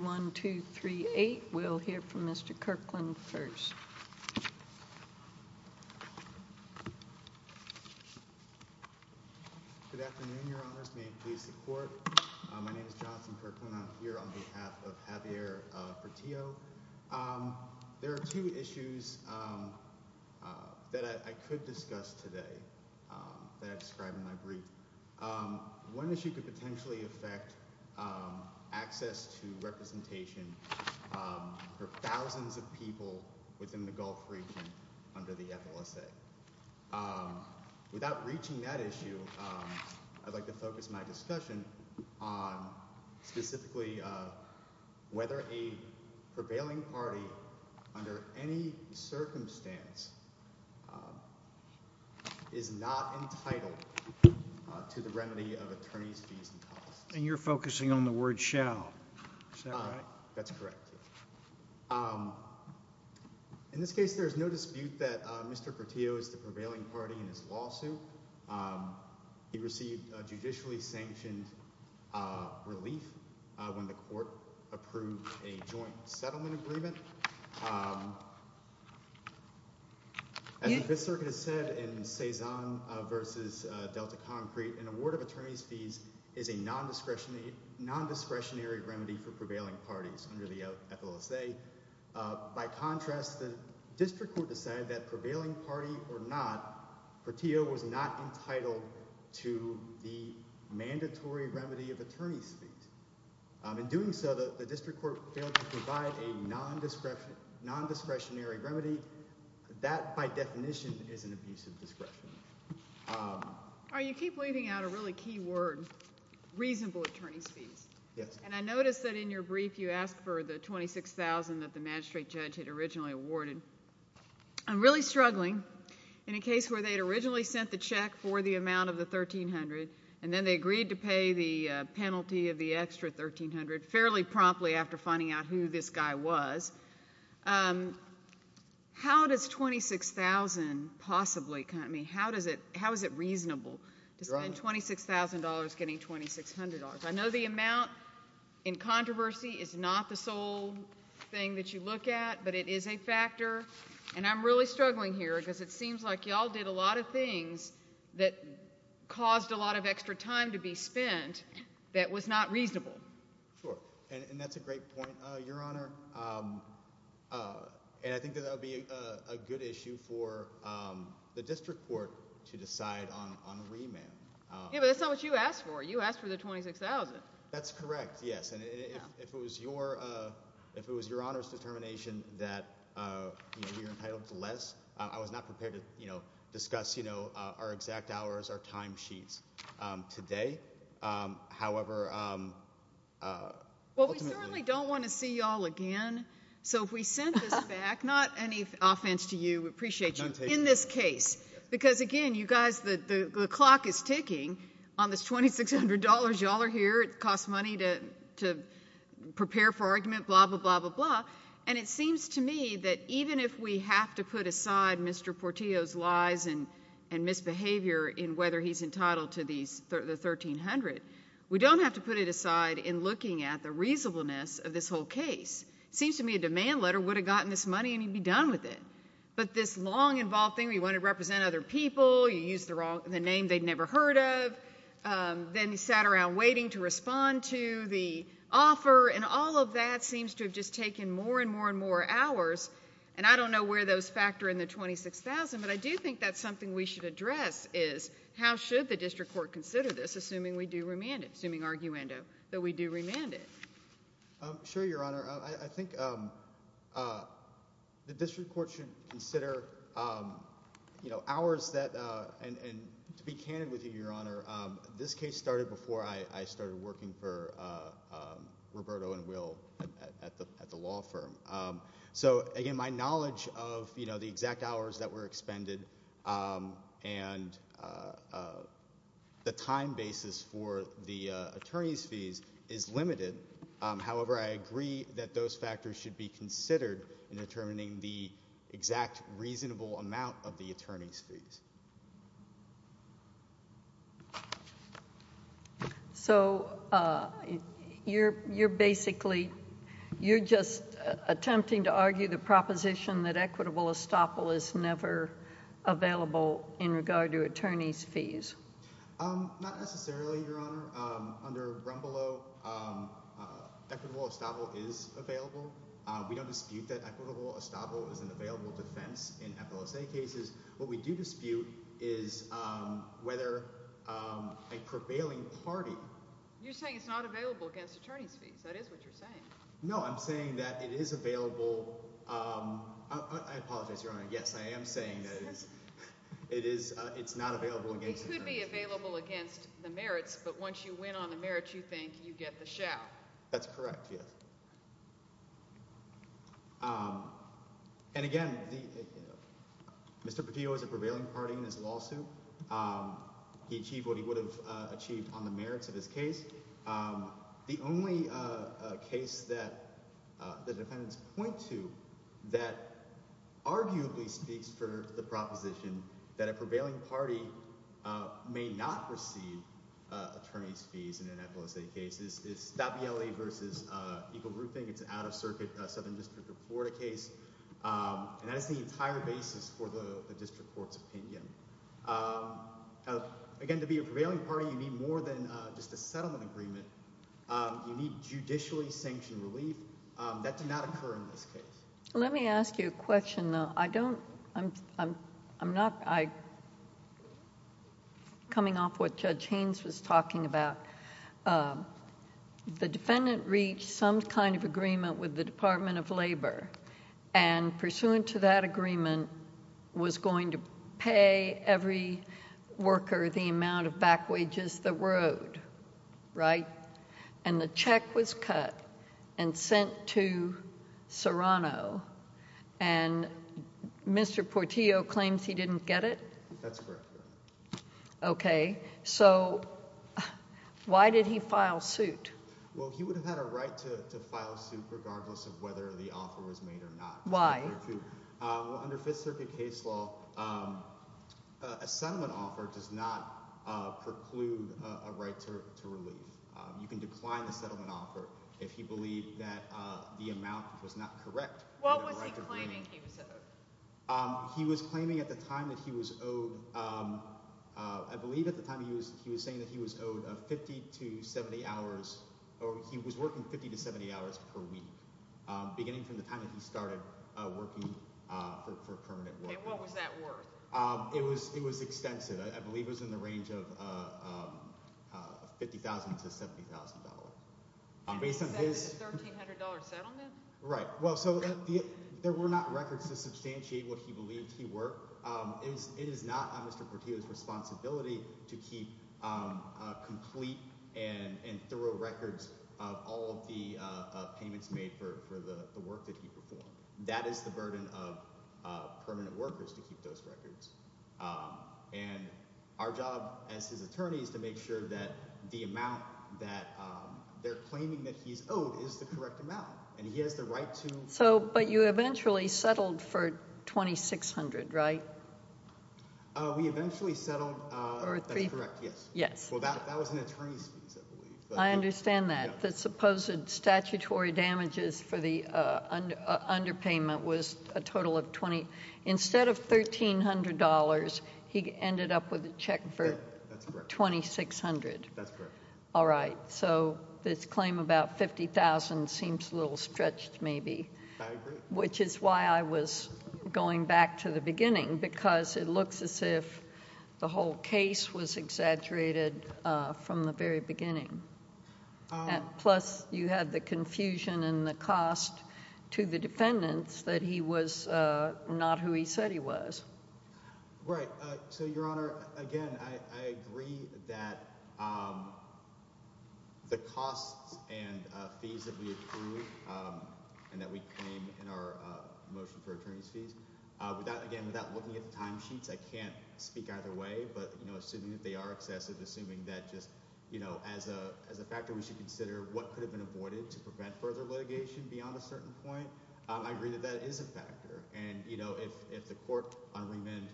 1, 2, 3, 8. We'll hear from Mr. Kirkland first. Good afternoon, your honors. May it please the court. My name is Johnson Kirkland. I'm here on behalf of Javier Portillo. There are two issues that I could discuss today that I described in my brief. One issue could potentially affect access to representation for thousands of people within the Gulf region under the FLSA. Without reaching that issue, I'd like to focus my discussion on specifically whether a prevailing party under any circumstance is not entitled to the remedy of attorney's fees and costs. And you're focusing on the word shall. Is that right? That's correct. In this case, there's no dispute that Mr. Portillo is the prevailing party in his lawsuit. He received a judicially sanctioned relief when the court approved a joint settlement agreement. As the Fifth Circuit has said in Cezanne v. Delta Concrete, an award of attorney's fees is a non-discretionary remedy for prevailing parties under the FLSA. By contrast, the district court decided that prevailing party or not, Portillo was not entitled to the mandatory remedy of attorney's fees. In doing so, the district court failed to provide a non-discretionary remedy. That, by definition, is an abusive discretion. You keep leaving out a really key word, reasonable attorney's fees. Yes. And I noticed that in your brief you asked for the $26,000 that the magistrate judge had originally awarded. I'm really struggling in a case where they had sent the check for the amount of the $1,300 and then they agreed to pay the penalty of the extra $1,300 fairly promptly after finding out who this guy was. How is it reasonable to spend $26,000 getting $2,600? I know the amount in controversy is not the sole thing that you look at, but it is a factor. And I'm really struggling here because it seems like y'all did a lot of things that caused a lot of extra time to be spent that was not reasonable. Sure. And that's a great point, Your Honor. And I think that that would be a good issue for the district court to decide on a remand. Yeah, but that's not what you asked for. You asked for the $26,000. That's correct, yes. And if it was Your Honor's determination that we were entitled to less, I was not prepared to discuss our exact hours, our time sheets today. However, ultimately... Well, we certainly don't want to see y'all again, so if we send this back, not any offense to you, we appreciate you, in this case. Because again, you guys, the clock is ticking on this $2,600. Y'all are here. It costs money to prepare for argument, blah, blah, blah, blah, blah. And it seems to me that even if we have to put aside Mr. Portillo's lies and misbehavior in whether he's entitled to the $1,300, we don't have to put it aside in looking at the reasonableness of this whole case. It seems to me a demand letter would have gotten this money and you'd be done with it. But this long-involved thing where you want to represent other people, you use the name they'd never heard of, then you sat around waiting to respond to the offer, and all of that seems to have just taken more and more and more hours. And I don't know where those factor in the $26,000, but I do think that's something we should address, is how should the District Court consider this, assuming we do remand it, assuming arguendo that we do remand it? Sure, Your Honor. I think the District Court should consider hours that, and to be candid with you, Your Honor, this case started before I started working for Roberto and Will at the law firm. So again, my knowledge of the exact hours that were expended and the time basis for the attorney's fees is limited. However, I agree that those factors should be considered in determining the exact reasonable amount of the attorney's fees. So, you're basically, you're just attempting to argue the proposition that equitable estoppel is never available in regard to attorney's fees? Not necessarily, Your Honor. Under Rumbleau, equitable estoppel is available. We don't dispute that equitable estoppel is an available defense in FLSA cases. What we do dispute is whether a prevailing party... You're saying it's not available against attorney's fees. That is what you're saying. No, I'm saying that it is available. I apologize, Your Honor. Yes, I am saying that it is. It is. It's not available against... It could be available against the merits, but once you win on the merits, you think you get the shell. That's correct, yes. And again, Mr. Petillo is a prevailing party in his lawsuit. He achieved what he would have achieved on the merits of his case. The only case that the defendants point to that arguably speaks for the proposition that a prevailing party may not receive attorney's fees in an FLSA case is Stabiele v. Eagle Grouping. It's an out-of-circuit Southern District of Florida case. That is the entire basis for the district court's opinion. Again, to be a prevailing party, you need more than just a settlement agreement. You need judicially sanctioned relief. That did not occur in this case. Let me ask you a question, though. I'm not coming off what Judge Haynes was talking about. The defendant reached some kind of agreement with the Department of Labor, and pursuant to that agreement was going to pay every worker the amount of back wages that were and Mr. Portillo claims he didn't get it? That's correct. Okay, so why did he file suit? Well, he would have had a right to file suit regardless of whether the offer was made or not. Why? Under Fifth Circuit case law, a settlement offer does not preclude a right to relief. You can decline the settlement offer if you believe that the amount was not correct. What was he claiming he was owed? He was claiming at the time that he was owed, I believe at the time he was he was saying that he was owed 50 to 70 hours, or he was working 50 to 70 hours per week beginning from the time that he started working for permanent work. And what was that worth? It was extensive. I believe it was in range of $50,000 to $70,000. A $1,300 settlement? Right. Well, so there were not records to substantiate what he believed he worked. It is not Mr. Portillo's responsibility to keep complete and thorough records of all of the payments made for the work that he performed. That is the burden of permanent workers to keep those records. And our job as his attorney is to make sure that the amount that they're claiming that he's owed is the correct amount. And he has the right to... So, but you eventually settled for $2,600, right? We eventually settled... That's correct, yes. Yes. Well, that was an attorney's fees, I believe. I understand that. The supposed statutory damages for the underpayment was a total of 20. Instead of $1,300, he ended up with a check for $2,600. That's correct. All right. So this claim about $50,000 seems a little stretched, maybe. I agree. Which is why I was going back to the beginning because it looks as if the whole case was exaggerated from the very beginning. Plus, you had the confusion and the cost to the defendants that he was not who he said he was. Right. So, Your Honor, again, I agree that the costs and fees that we accrued and that we claim in our motion for attorney's fees... Again, without looking at the timesheets, I can't agree with that. I agree that that is a factor. And, you know, if the court on remand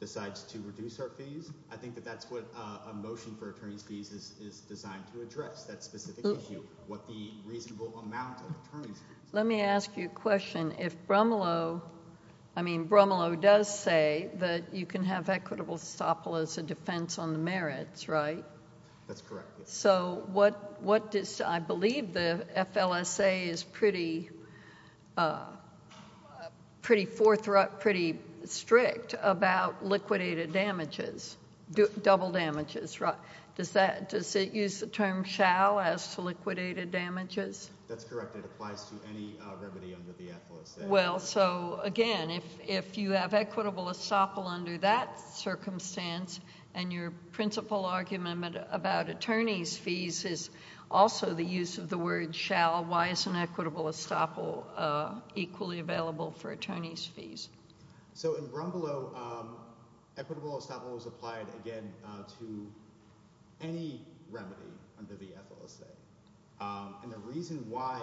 decides to reduce our fees, I think that that's what a motion for attorney's fees is designed to address, that specific issue, what the reasonable amount of attorney's fees... Let me ask you a question. If Bromelow... I mean, Bromelow does say that you can have equitable SOPLAs a defense on the merits, right? That's correct. So, what does... I believe the FLSA is pretty forthright, pretty strict about liquidated damages, double damages, right? Does it use the term shall as liquidated damages? That's correct. It applies to any remedy under the FLSA. Well, so, again, if you have equitable SOPLA under that circumstance and your principal argument about attorney's fees is also the use of the word shall, why is an equitable SOPLA equally available for attorney's fees? So, in Bromelow, equitable SOPLA was applied, again, to any remedy under the FLSA, and the reason why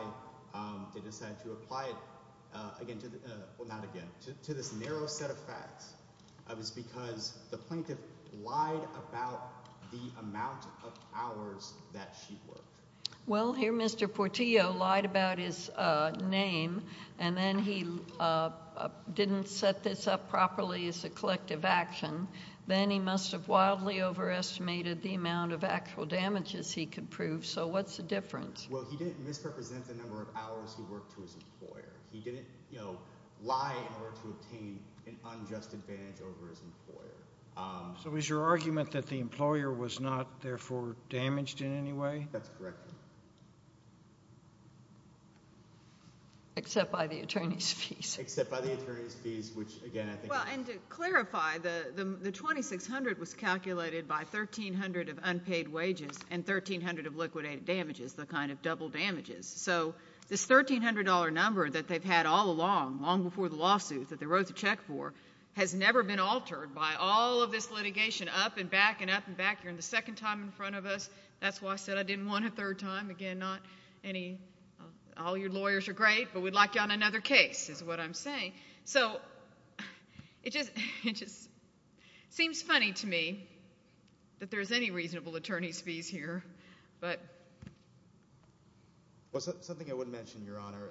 they decided to apply it, again, well, not again, to this narrow set of facts is because the plaintiff lied about the amount of hours that she worked. Well, here Mr. Portillo lied about his name and then he didn't set this up properly as a collective action, then he must have wildly overestimated the amount of actual damages he could prove, so what's the difference? Well, he didn't misrepresent the number of hours he worked to his employer. He didn't, you know, lie in order to obtain an unjust advantage over his employer. So, is your argument that the employer was not therefore damaged in any way? That's correct. Except by the attorney's fees. Except by the attorney's fees, which again, I think. Well, and to clarify, the $2,600 was calculated by $1,300 of unpaid wages and $1,300 of liquidated damages, the kind of double damages, so this $1,300 number that they've had all along, long before the lawsuit that they wrote the check for, has never been altered by all of this litigation up and back and up and back. You're in the second time in front of us. That's why I said I didn't want a hard time. Again, not any, all your lawyers are great, but we'd like you on another case, is what I'm saying. So, it just seems funny to me that there's any reasonable attorney's fees here, but. Well, something I wouldn't mention, Your Honor,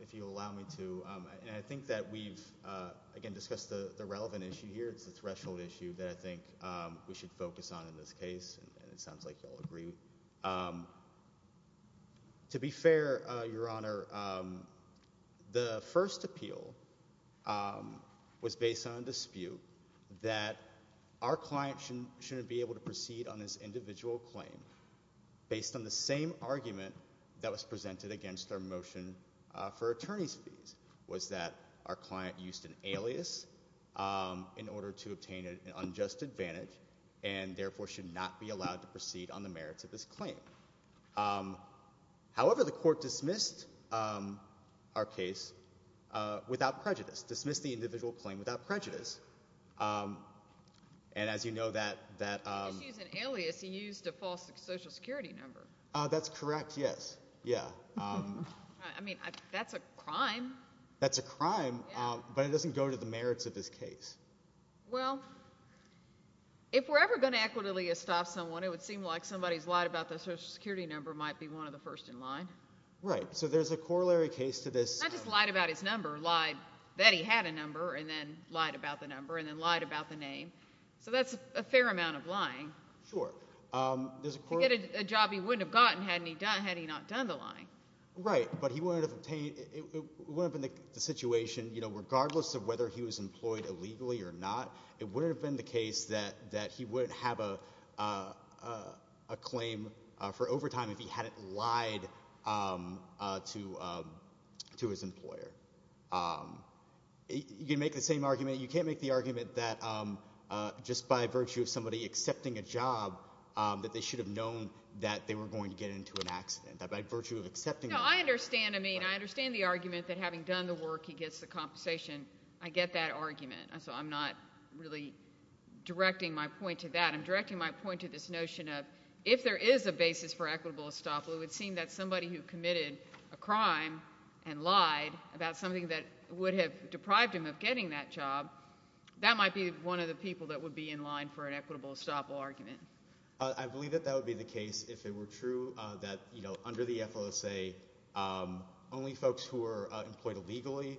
if you'll allow me to, and I think that we've again discussed the relevant issue here. It's the threshold issue that I think we should focus on in this case, and it sounds like you'll agree. To be fair, Your Honor, the first appeal was based on a dispute that our client shouldn't be able to proceed on this individual claim based on the same argument that was presented against our motion for attorney's fees, was that our client used an alias in order to obtain an unjust advantage and therefore should not be allowed to proceed on the merits of this claim. However, the court dismissed our case without prejudice, dismissed the individual claim without prejudice, and as you know that, that, just using alias, he used a false social security number. That's correct, yes, yeah. I mean, that's a crime. That's a crime, but it doesn't go to the merits of this case. Well, if we're ever going to equitably estop someone, it would seem like somebody's lied about the social security number might be one of the first in line. Right, so there's a corollary case to this. Not just lied about his number, lied that he had a number and then lied about the number and then lied about the name, so that's a fair amount of lying. Sure, there's a job he wouldn't have gotten had he not done the lying. Right, but he wouldn't have obtained, it wouldn't have been the situation, you know, regardless of whether he was employed illegally or not, it wouldn't have been the case that he wouldn't have a claim for overtime if he hadn't lied to his employer. You can make the same argument. You can't make the argument that just by virtue of somebody accepting a job, that they should have known that they were going to get into an accident, that by virtue of accepting... No, I understand. I mean, I understand the argument that having done the work, he gets the compensation. I get that argument, so I'm not really directing my point to that. I'm directing my point to this notion of if there is a basis for equitable estoppel, it would seem that somebody who committed a crime and lied about something that would have deprived him of getting that job, that might be one of the people that would be in line for an equitable estoppel argument. I believe that that would be the case if it were true that, you know, under the FOSA, only folks who are employed legally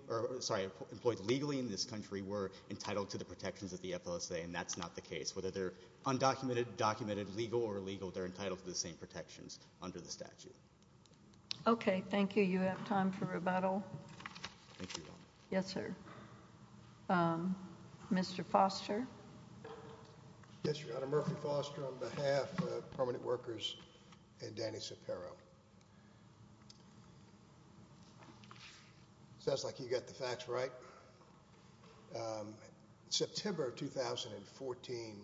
in this country were entitled to the protections of the FOSA, and that's not the case. Whether they're undocumented, documented, legal, or illegal, they're entitled to the same protections under the statute. Okay, thank you. You have time for rebuttal. Thank you. Yes, sir. Mr. Foster? Yes, Your Honor. Murphy Foster on behalf of Permanent Workers and Danny Sapero. It sounds like you got the facts right. In September of 2014,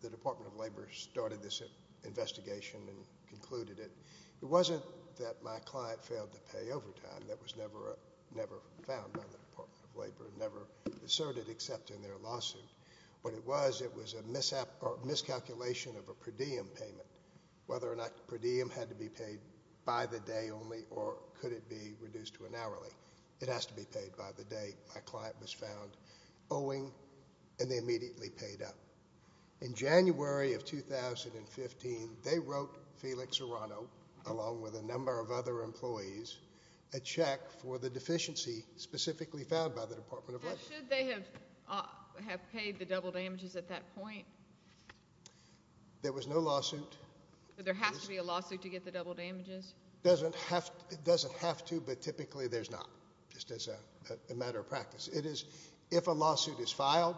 the Department of Labor started this investigation and concluded it. It wasn't that my client failed to pay overtime. That was never found by the Department of Labor, never asserted except in their lawsuit. What it was, it was a miscalculation of a per diem payment, whether or not per diem had to be paid by the day only or could it be reduced to an hourly. It has to be paid by the day my client was found owing, and they immediately paid up. In January of 2015, they wrote Felix Serrano, along with a number of other employees, a check for the deficiency specifically found by the Department of Labor. Did they pay the double damages at that point? There was no lawsuit. There has to be a lawsuit to get the double damages? It doesn't have to, but typically there's not, just as a matter of practice. It is, if a lawsuit is filed,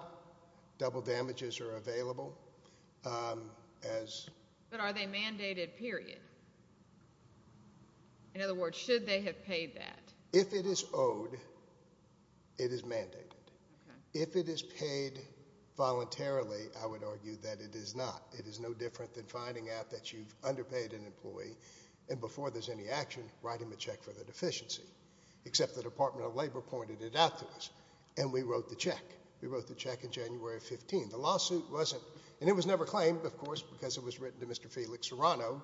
double damages are available. But are they mandated, period? In other words, should they have paid that? If it is owed, it is mandated. If it is paid voluntarily, I would argue that it is not. It is no different than finding out that you've underpaid an employee, and before there's any action, write him a check for the deficiency, except the Department of Labor pointed it out to us, and we wrote the check. We wrote the check in January of 2015. The lawsuit wasn't, and it was never claimed, of course, because it was written to Mr. Felix Serrano,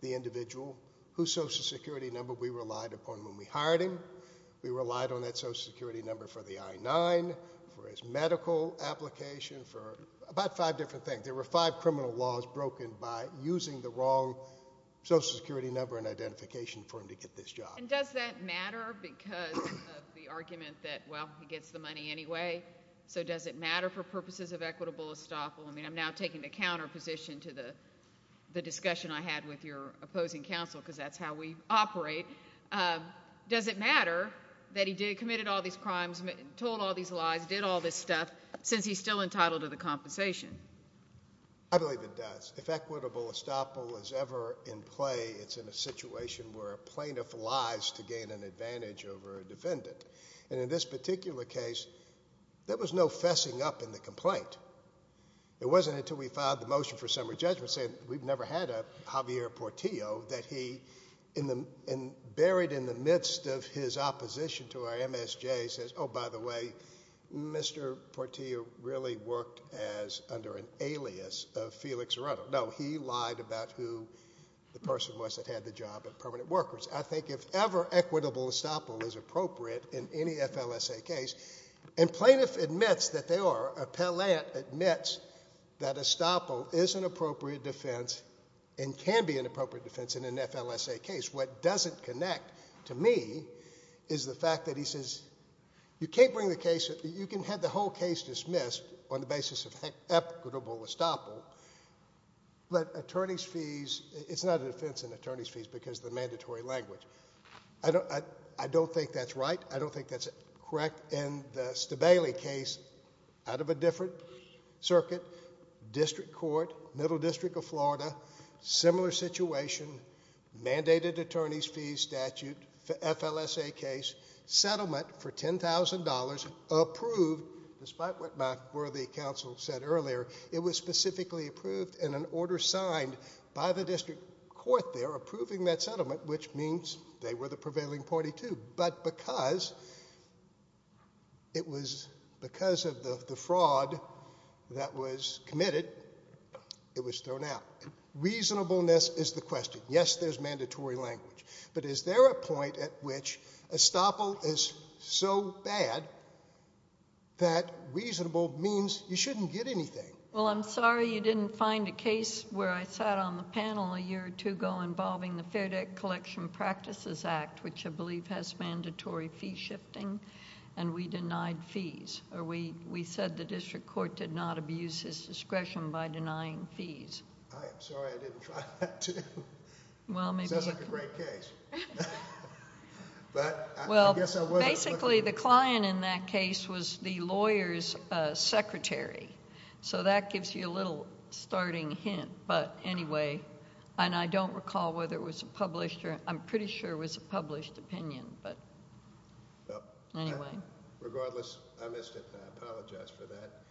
the individual whose Social Security number we relied upon when we hired him. We relied on that Social Security number for the I-9, for his medical application, for about five different things. There were five criminal laws broken by using the wrong Social Security number and identification for him to get this job. And does that matter because of the argument that, well, he gets the money anyway, so does it matter for purposes of equitable estoppel? I mean, I'm now taking the counter position to the discussion I had with your operate. Does it matter that he committed all these crimes, told all these lies, did all this stuff, since he's still entitled to the compensation? I believe it does. If equitable estoppel is ever in play, it's in a situation where a plaintiff lies to gain an advantage over a defendant. And in this particular case, there was no fessing up in the complaint. It wasn't until we filed the motion for summary judgment saying we've never had a Javier Portillo that he, buried in the midst of his opposition to our MSJ, says, oh, by the way, Mr. Portillo really worked as under an alias of Felix Ruto. No, he lied about who the person was that had the job at Permanent Workers. I think if ever equitable estoppel is appropriate in any FLSA case, and plaintiff admits that they are, appellant admits that estoppel is an appropriate defense and can be an appropriate defense in an FLSA case, what doesn't connect to me is the fact that he says, you can't bring the case, you can have the whole case dismissed on the basis of equitable estoppel, but attorney's fees, it's not a defense in attorney's fees because of the mandatory language. I don't, I don't think that's right. I don't think that's correct. In the Stabaley case, out of a different circuit, district court, middle district of Florida, similar situation, mandated attorney's fees statute, FLSA case, settlement for $10,000 approved, despite what my worthy counsel said earlier, it was specifically approved in an order signed by the district court there approving that settlement, which means they were the prevailing party too, but because it was because of the fraud that was committed, it was thrown out. Reasonableness is the question. Yes, there's mandatory language, but is there a point at which estoppel is so bad that reasonable means you shouldn't get anything? Well, I'm sorry you didn't find a case where I sat on the panel a year or two ago involving the Fair Debt Collection Practices Act, which I believe has mandatory fee shifting, and we denied fees, or we said the district court did not abuse his discretion by denying fees. I'm sorry I didn't try that too. Sounds like a great case. Well, basically the client in that case was the lawyer's secretary, so that gives you a little starting hint, but anyway, and I don't recall whether it was published, or I'm pretty sure it was a published opinion, but anyway. Regardless, I missed it. I apologize for that.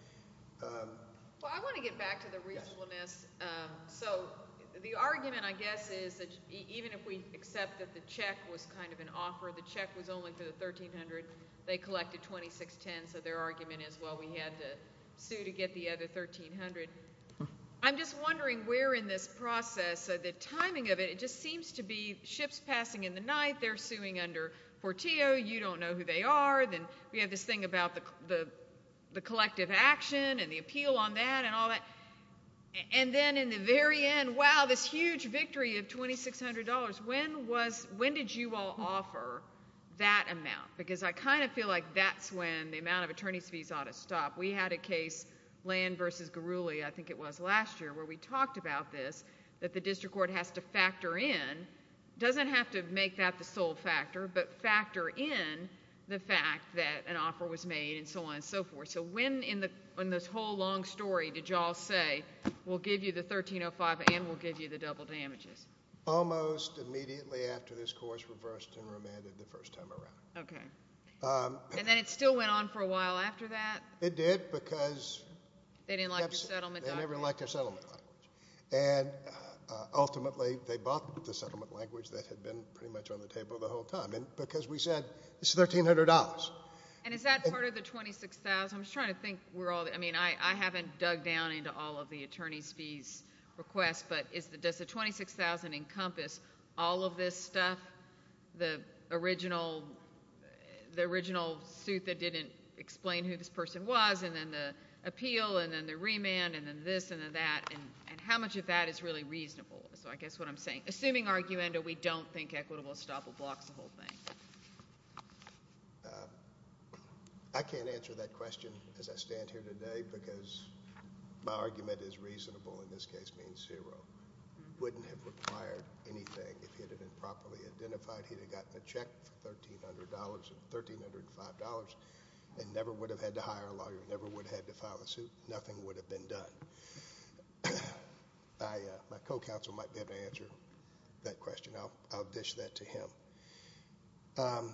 Well, I want to get back to the reasonableness. So the argument, I guess, is that even if we accept that the check was kind of an offer, the check was only for the $1,300, they collected $2,610, so their argument is, well, we had to sue to get the other $1,300. I'm just wondering where in this process, the timing of it, it just seems to be ships passing in the night, they're suing under Forteo, you don't know who they are, then we have this thing about the collective action and the appeal on that and all that, and then in the very end, wow, this huge victory of $2,600. When did you all offer that amount? Because I kind of feel like that's when the amount of attorney's fees ought to stop. We had a case, Land v. Garuli, I think it was last year, where we talked about this, that the district court has to factor in, doesn't have to make that the sole factor, but factor in the fact that an offer was made and so on and so forth. So when in this whole long story did you all say, we'll give you the $1,305 and we'll give you the double damages? Almost immediately after this course reversed and remanded the first time around. Okay, and then it still went on for a while after that? It did, because they didn't like your settlement. They never liked their settlement, and ultimately they bought the settlement language that had been pretty much on the table the whole time, and because we said it's $1,300. And is that part of the $2,600? I'm just trying to think, I mean, I haven't dug down into all of the attorney's fees requests, but does the $2,600 encompass all of this stuff, the original suit that didn't explain who this person was, and then the appeal, and then the remand, and then this, and then that, and how much of that is really reasonable? So I guess what I'm saying, assuming arguendo, we don't think equitable estoppel blocks the whole thing. I can't answer that question as I stand here today, because my argument is reasonable, in this case being zero. Wouldn't have required anything if he had been properly identified. He got a check for $1,300, $1,305, and never would have had to hire a lawyer, never would have had to file a suit. Nothing would have been done. My co-counsel might be able to answer that question. I'll dish that to him.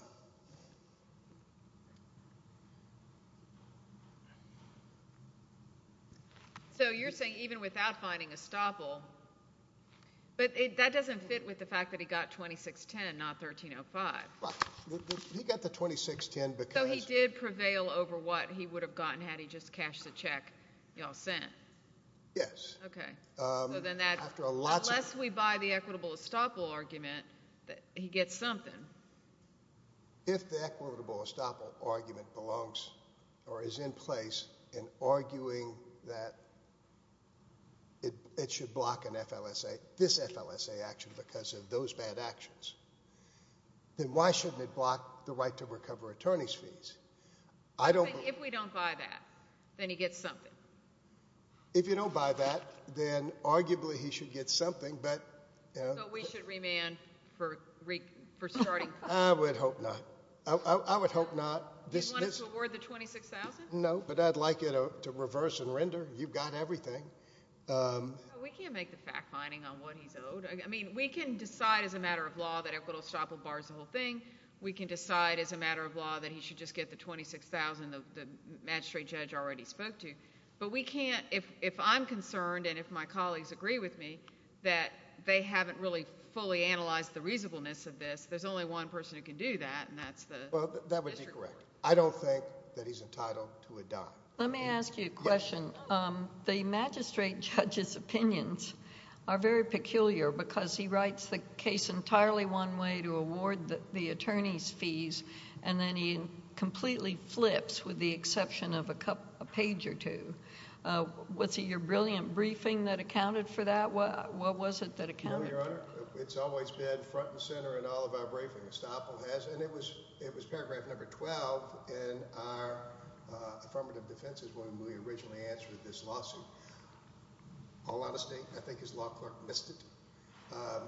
So you're saying even without finding estoppel, but that doesn't fit with the fact that he got $2,610, not $1,305? He got the $2,610 because... So he did prevail over what he would have gotten had he just cashed the check you all sent? Yes. Okay. So then that... After a lot... Unless we buy the equitable estoppel argument, he gets something. If the equitable estoppel argument belongs or is in place in arguing that it should block an FLSA, this FLSA action because of those bad actions, then why shouldn't it block the right to recover attorney's fees? I don't... If we don't buy that, then he gets something. If you don't buy that, then arguably he should get something, but... So we should remand for starting... I would hope not. I would hope not. You want us to award the $2,610, but we can't. We can't make the fact finding on what he's owed. I mean, we can decide as a matter of law that equitable estoppel bars the whole thing. We can decide as a matter of law that he should just get the $26,000 the magistrate judge already spoke to, but we can't... If I'm concerned and if my colleagues agree with me that they haven't really fully analyzed the reasonableness of this, there's only one person who can do that, and that's the... Well, that would be correct. I don't think that he's entitled to a dime. Let me ask you a question. The magistrate judge's opinions are very peculiar because he writes the case entirely one way to award the attorney's fees, and then he completely flips with the exception of a page or two. Was it your brilliant briefing that accounted for that? What was it that accounted for that? No, Your Honor. It's always been front and center in all of our briefings. Estoppel has, and it was paragraph number 12 in our affirmative defenses when we originally answered this lawsuit. All honesty, I think his law clerk missed it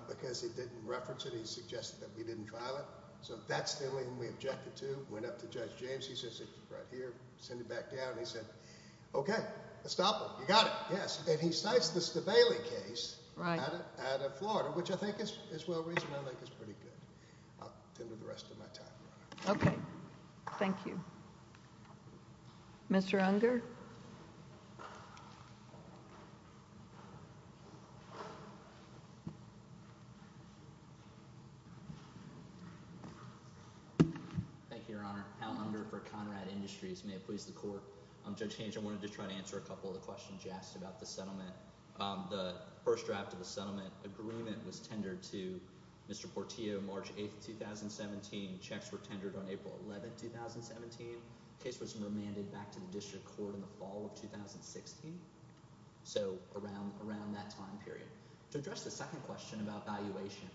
because he didn't reference it. He suggested that we didn't trial it, so that's the only thing we objected to. Went up to Judge James. He says, right here, send it back down. He said, okay, Estoppel, you got it. Yes, and he cites the law clerk. I think that's pretty good. I'll tender the rest of my time, Your Honor. Okay. Thank you. Mr. Unger? Thank you, Your Honor. Al Unger for Conrad Industries. May it please the Court. Judge Hange, I wanted to try to answer a couple of the questions you asked about the settlement. The first draft of the settlement agreement was tendered to Mr. Portillo March 8, 2017. Checks were tendered on April 11, 2017. The case was remanded back to the District Court in the fall of 2016, so around that time period. To address the second question about valuation,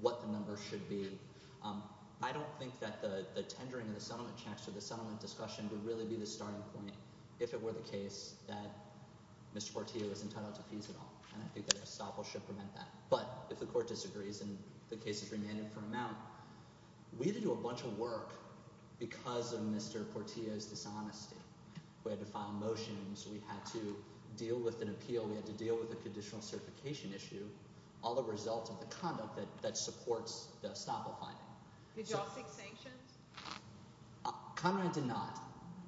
what the number should be, I don't think that the tendering of the settlement checks or the Mr. Portillo is entitled to fees at all, and I think that Estoppel should prevent that. But, if the Court disagrees and the case is remanded for amount, we had to do a bunch of work because of Mr. Portillo's dishonesty. We had to file motions. We had to deal with an appeal. We had to deal with a conditional certification issue, all the results of the conduct that supports the Estoppel finding. Did you all seek sanctions? Conrad did not.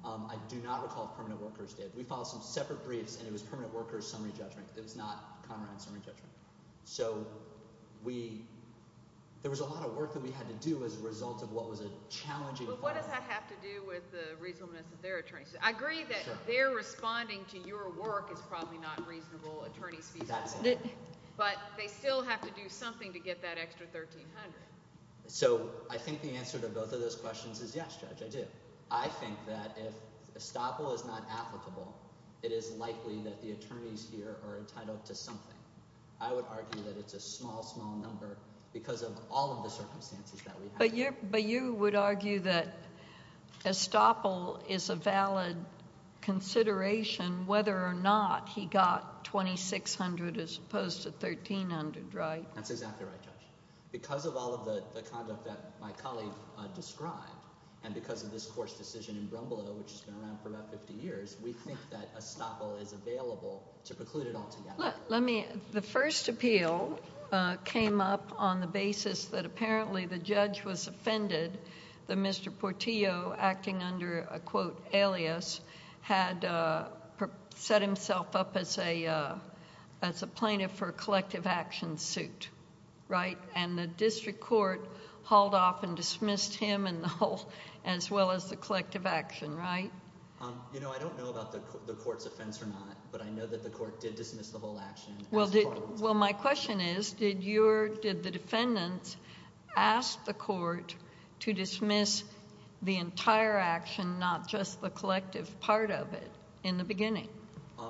I do not recall if permanent workers did. We filed some separate briefs and it was permanent workers' summary judgment. It was not Conrad's summary judgment. So, there was a lot of work that we had to do as a result of what was a challenging filing. But what does that have to do with the reasonableness of their attorneys? I agree that their responding to your work is probably not reasonable attorney's fees, but they still have to do something to get that extra $1,300. So, I think the answer to both of those questions is yes, Judge, I do. I think that if it is applicable, it is likely that the attorneys here are entitled to something. I would argue that it's a small, small number because of all of the circumstances that we have. But you would argue that Estoppel is a valid consideration whether or not he got $2,600 as opposed to $1,300, right? That's exactly right, Judge. Because of all of the conduct that my colleague described and because of this court's decision in Brumbulo, which has been around for about 50 years, we think that Estoppel is available to preclude it altogether. The first appeal came up on the basis that apparently the judge was offended that Mr. Portillo, acting under a quote alias, had set himself up as a plaintiff for a collective action suit, right? And the district court hauled off and dismissed him and the whole... as well as collective action, right? You know, I don't know about the court's offense or not, but I know that the court did dismiss the whole action as part of... Well, my question is, did the defendants ask the court to dismiss the entire action, not just the collective part of it in the beginning?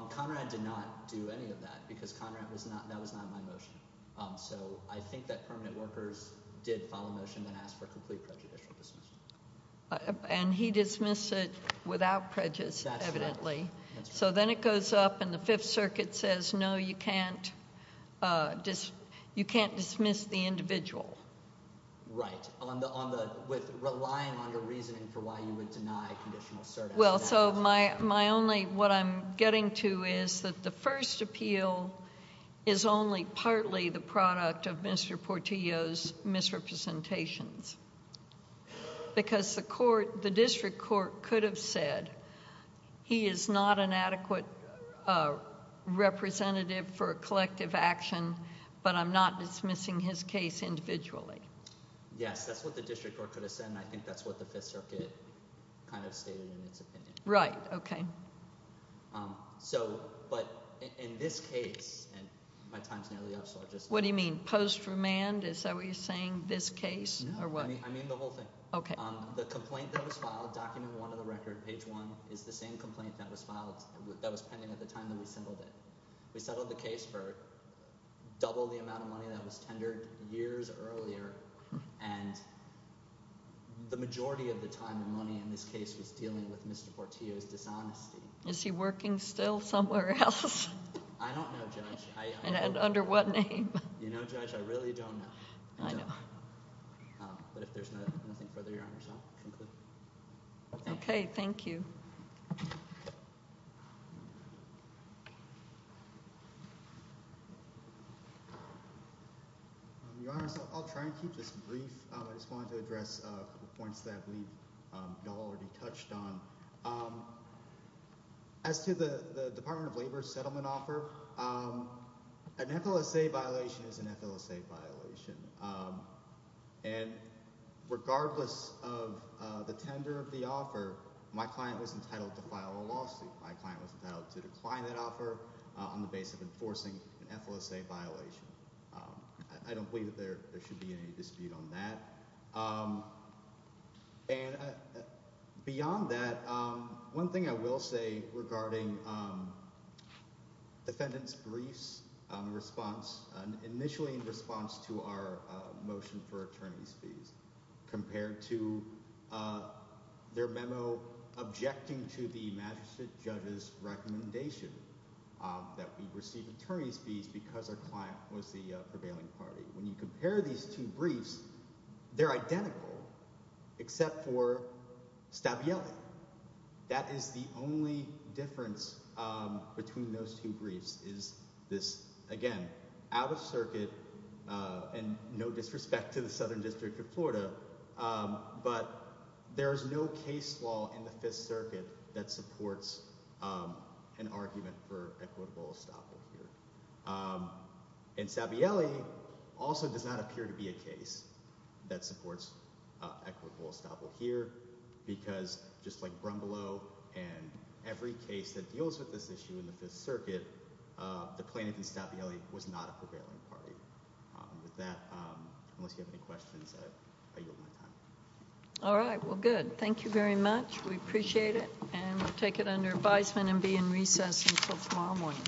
Conrad did not do any of that because Conrad was not... that was not my motion. So I think that permanent workers did file a motion that asked for complete prejudicial dismissal. And he dismissed it without prejudice, evidently. So then it goes up and the Fifth Circuit says, no, you can't dismiss the individual. Right. With relying on the reasoning for why you would deny conditional cert. Well, so my only... what I'm getting to is that the first appeal is only partly the product of Mr. Portillo's representations. Because the court... the district court could have said, he is not an adequate representative for collective action, but I'm not dismissing his case individually. Yes, that's what the district court could have said, and I think that's what the Fifth Circuit kind of stated in its opinion. Right, okay. So, but in this case, and my time's nearly up, so I'll just... What do you mean? Post-remand? Is that what you're saying? This case? No, I mean the whole thing. Okay. The complaint that was filed, document one of the record, page one, is the same complaint that was pending at the time that we settled it. We settled the case for double the amount of money that was tendered years earlier, and the majority of the time, the money in this case was dealing with Mr. Portillo's dishonesty. Is he working still somewhere else? I don't know, Judge. And under what name? You know, Judge, I really don't know. I know. But if there's nothing further, Your Honor, I'll conclude. Okay, thank you. Your Honor, so I'll try and keep this brief. I just wanted to address a couple points that we've already touched on. As to the Department of Labor's settlement offer, an FLSA violation is an FLSA violation, and regardless of the tender of the offer, my client was entitled to file a lawsuit. My client was entitled to decline that offer on the basis of enforcing an FLSA violation. I don't believe that there should be any dispute on that. And beyond that, one thing I will say regarding defendant's briefs, initially in response to our motion for attorney's fees, compared to their memo objecting to the magistrate judge's recommendation that we receive attorney's fees because our client was the prevailing party. When you compare these two briefs, they're identical except for Stabielli. That is the only difference between those two briefs is this, again, out of circuit and no disrespect to the Southern District of Florida, but there is no case law in the case. Stabielli also does not appear to be a case that supports Eckford-Wolstaple here because, just like Brumbelow and every case that deals with this issue in the Fifth Circuit, the plaintiff in Stabielli was not a prevailing party. With that, unless you have any questions, I yield my time. All right, well good. Thank you very much. We appreciate it, and we'll take it under advisement and be in recess until tomorrow morning.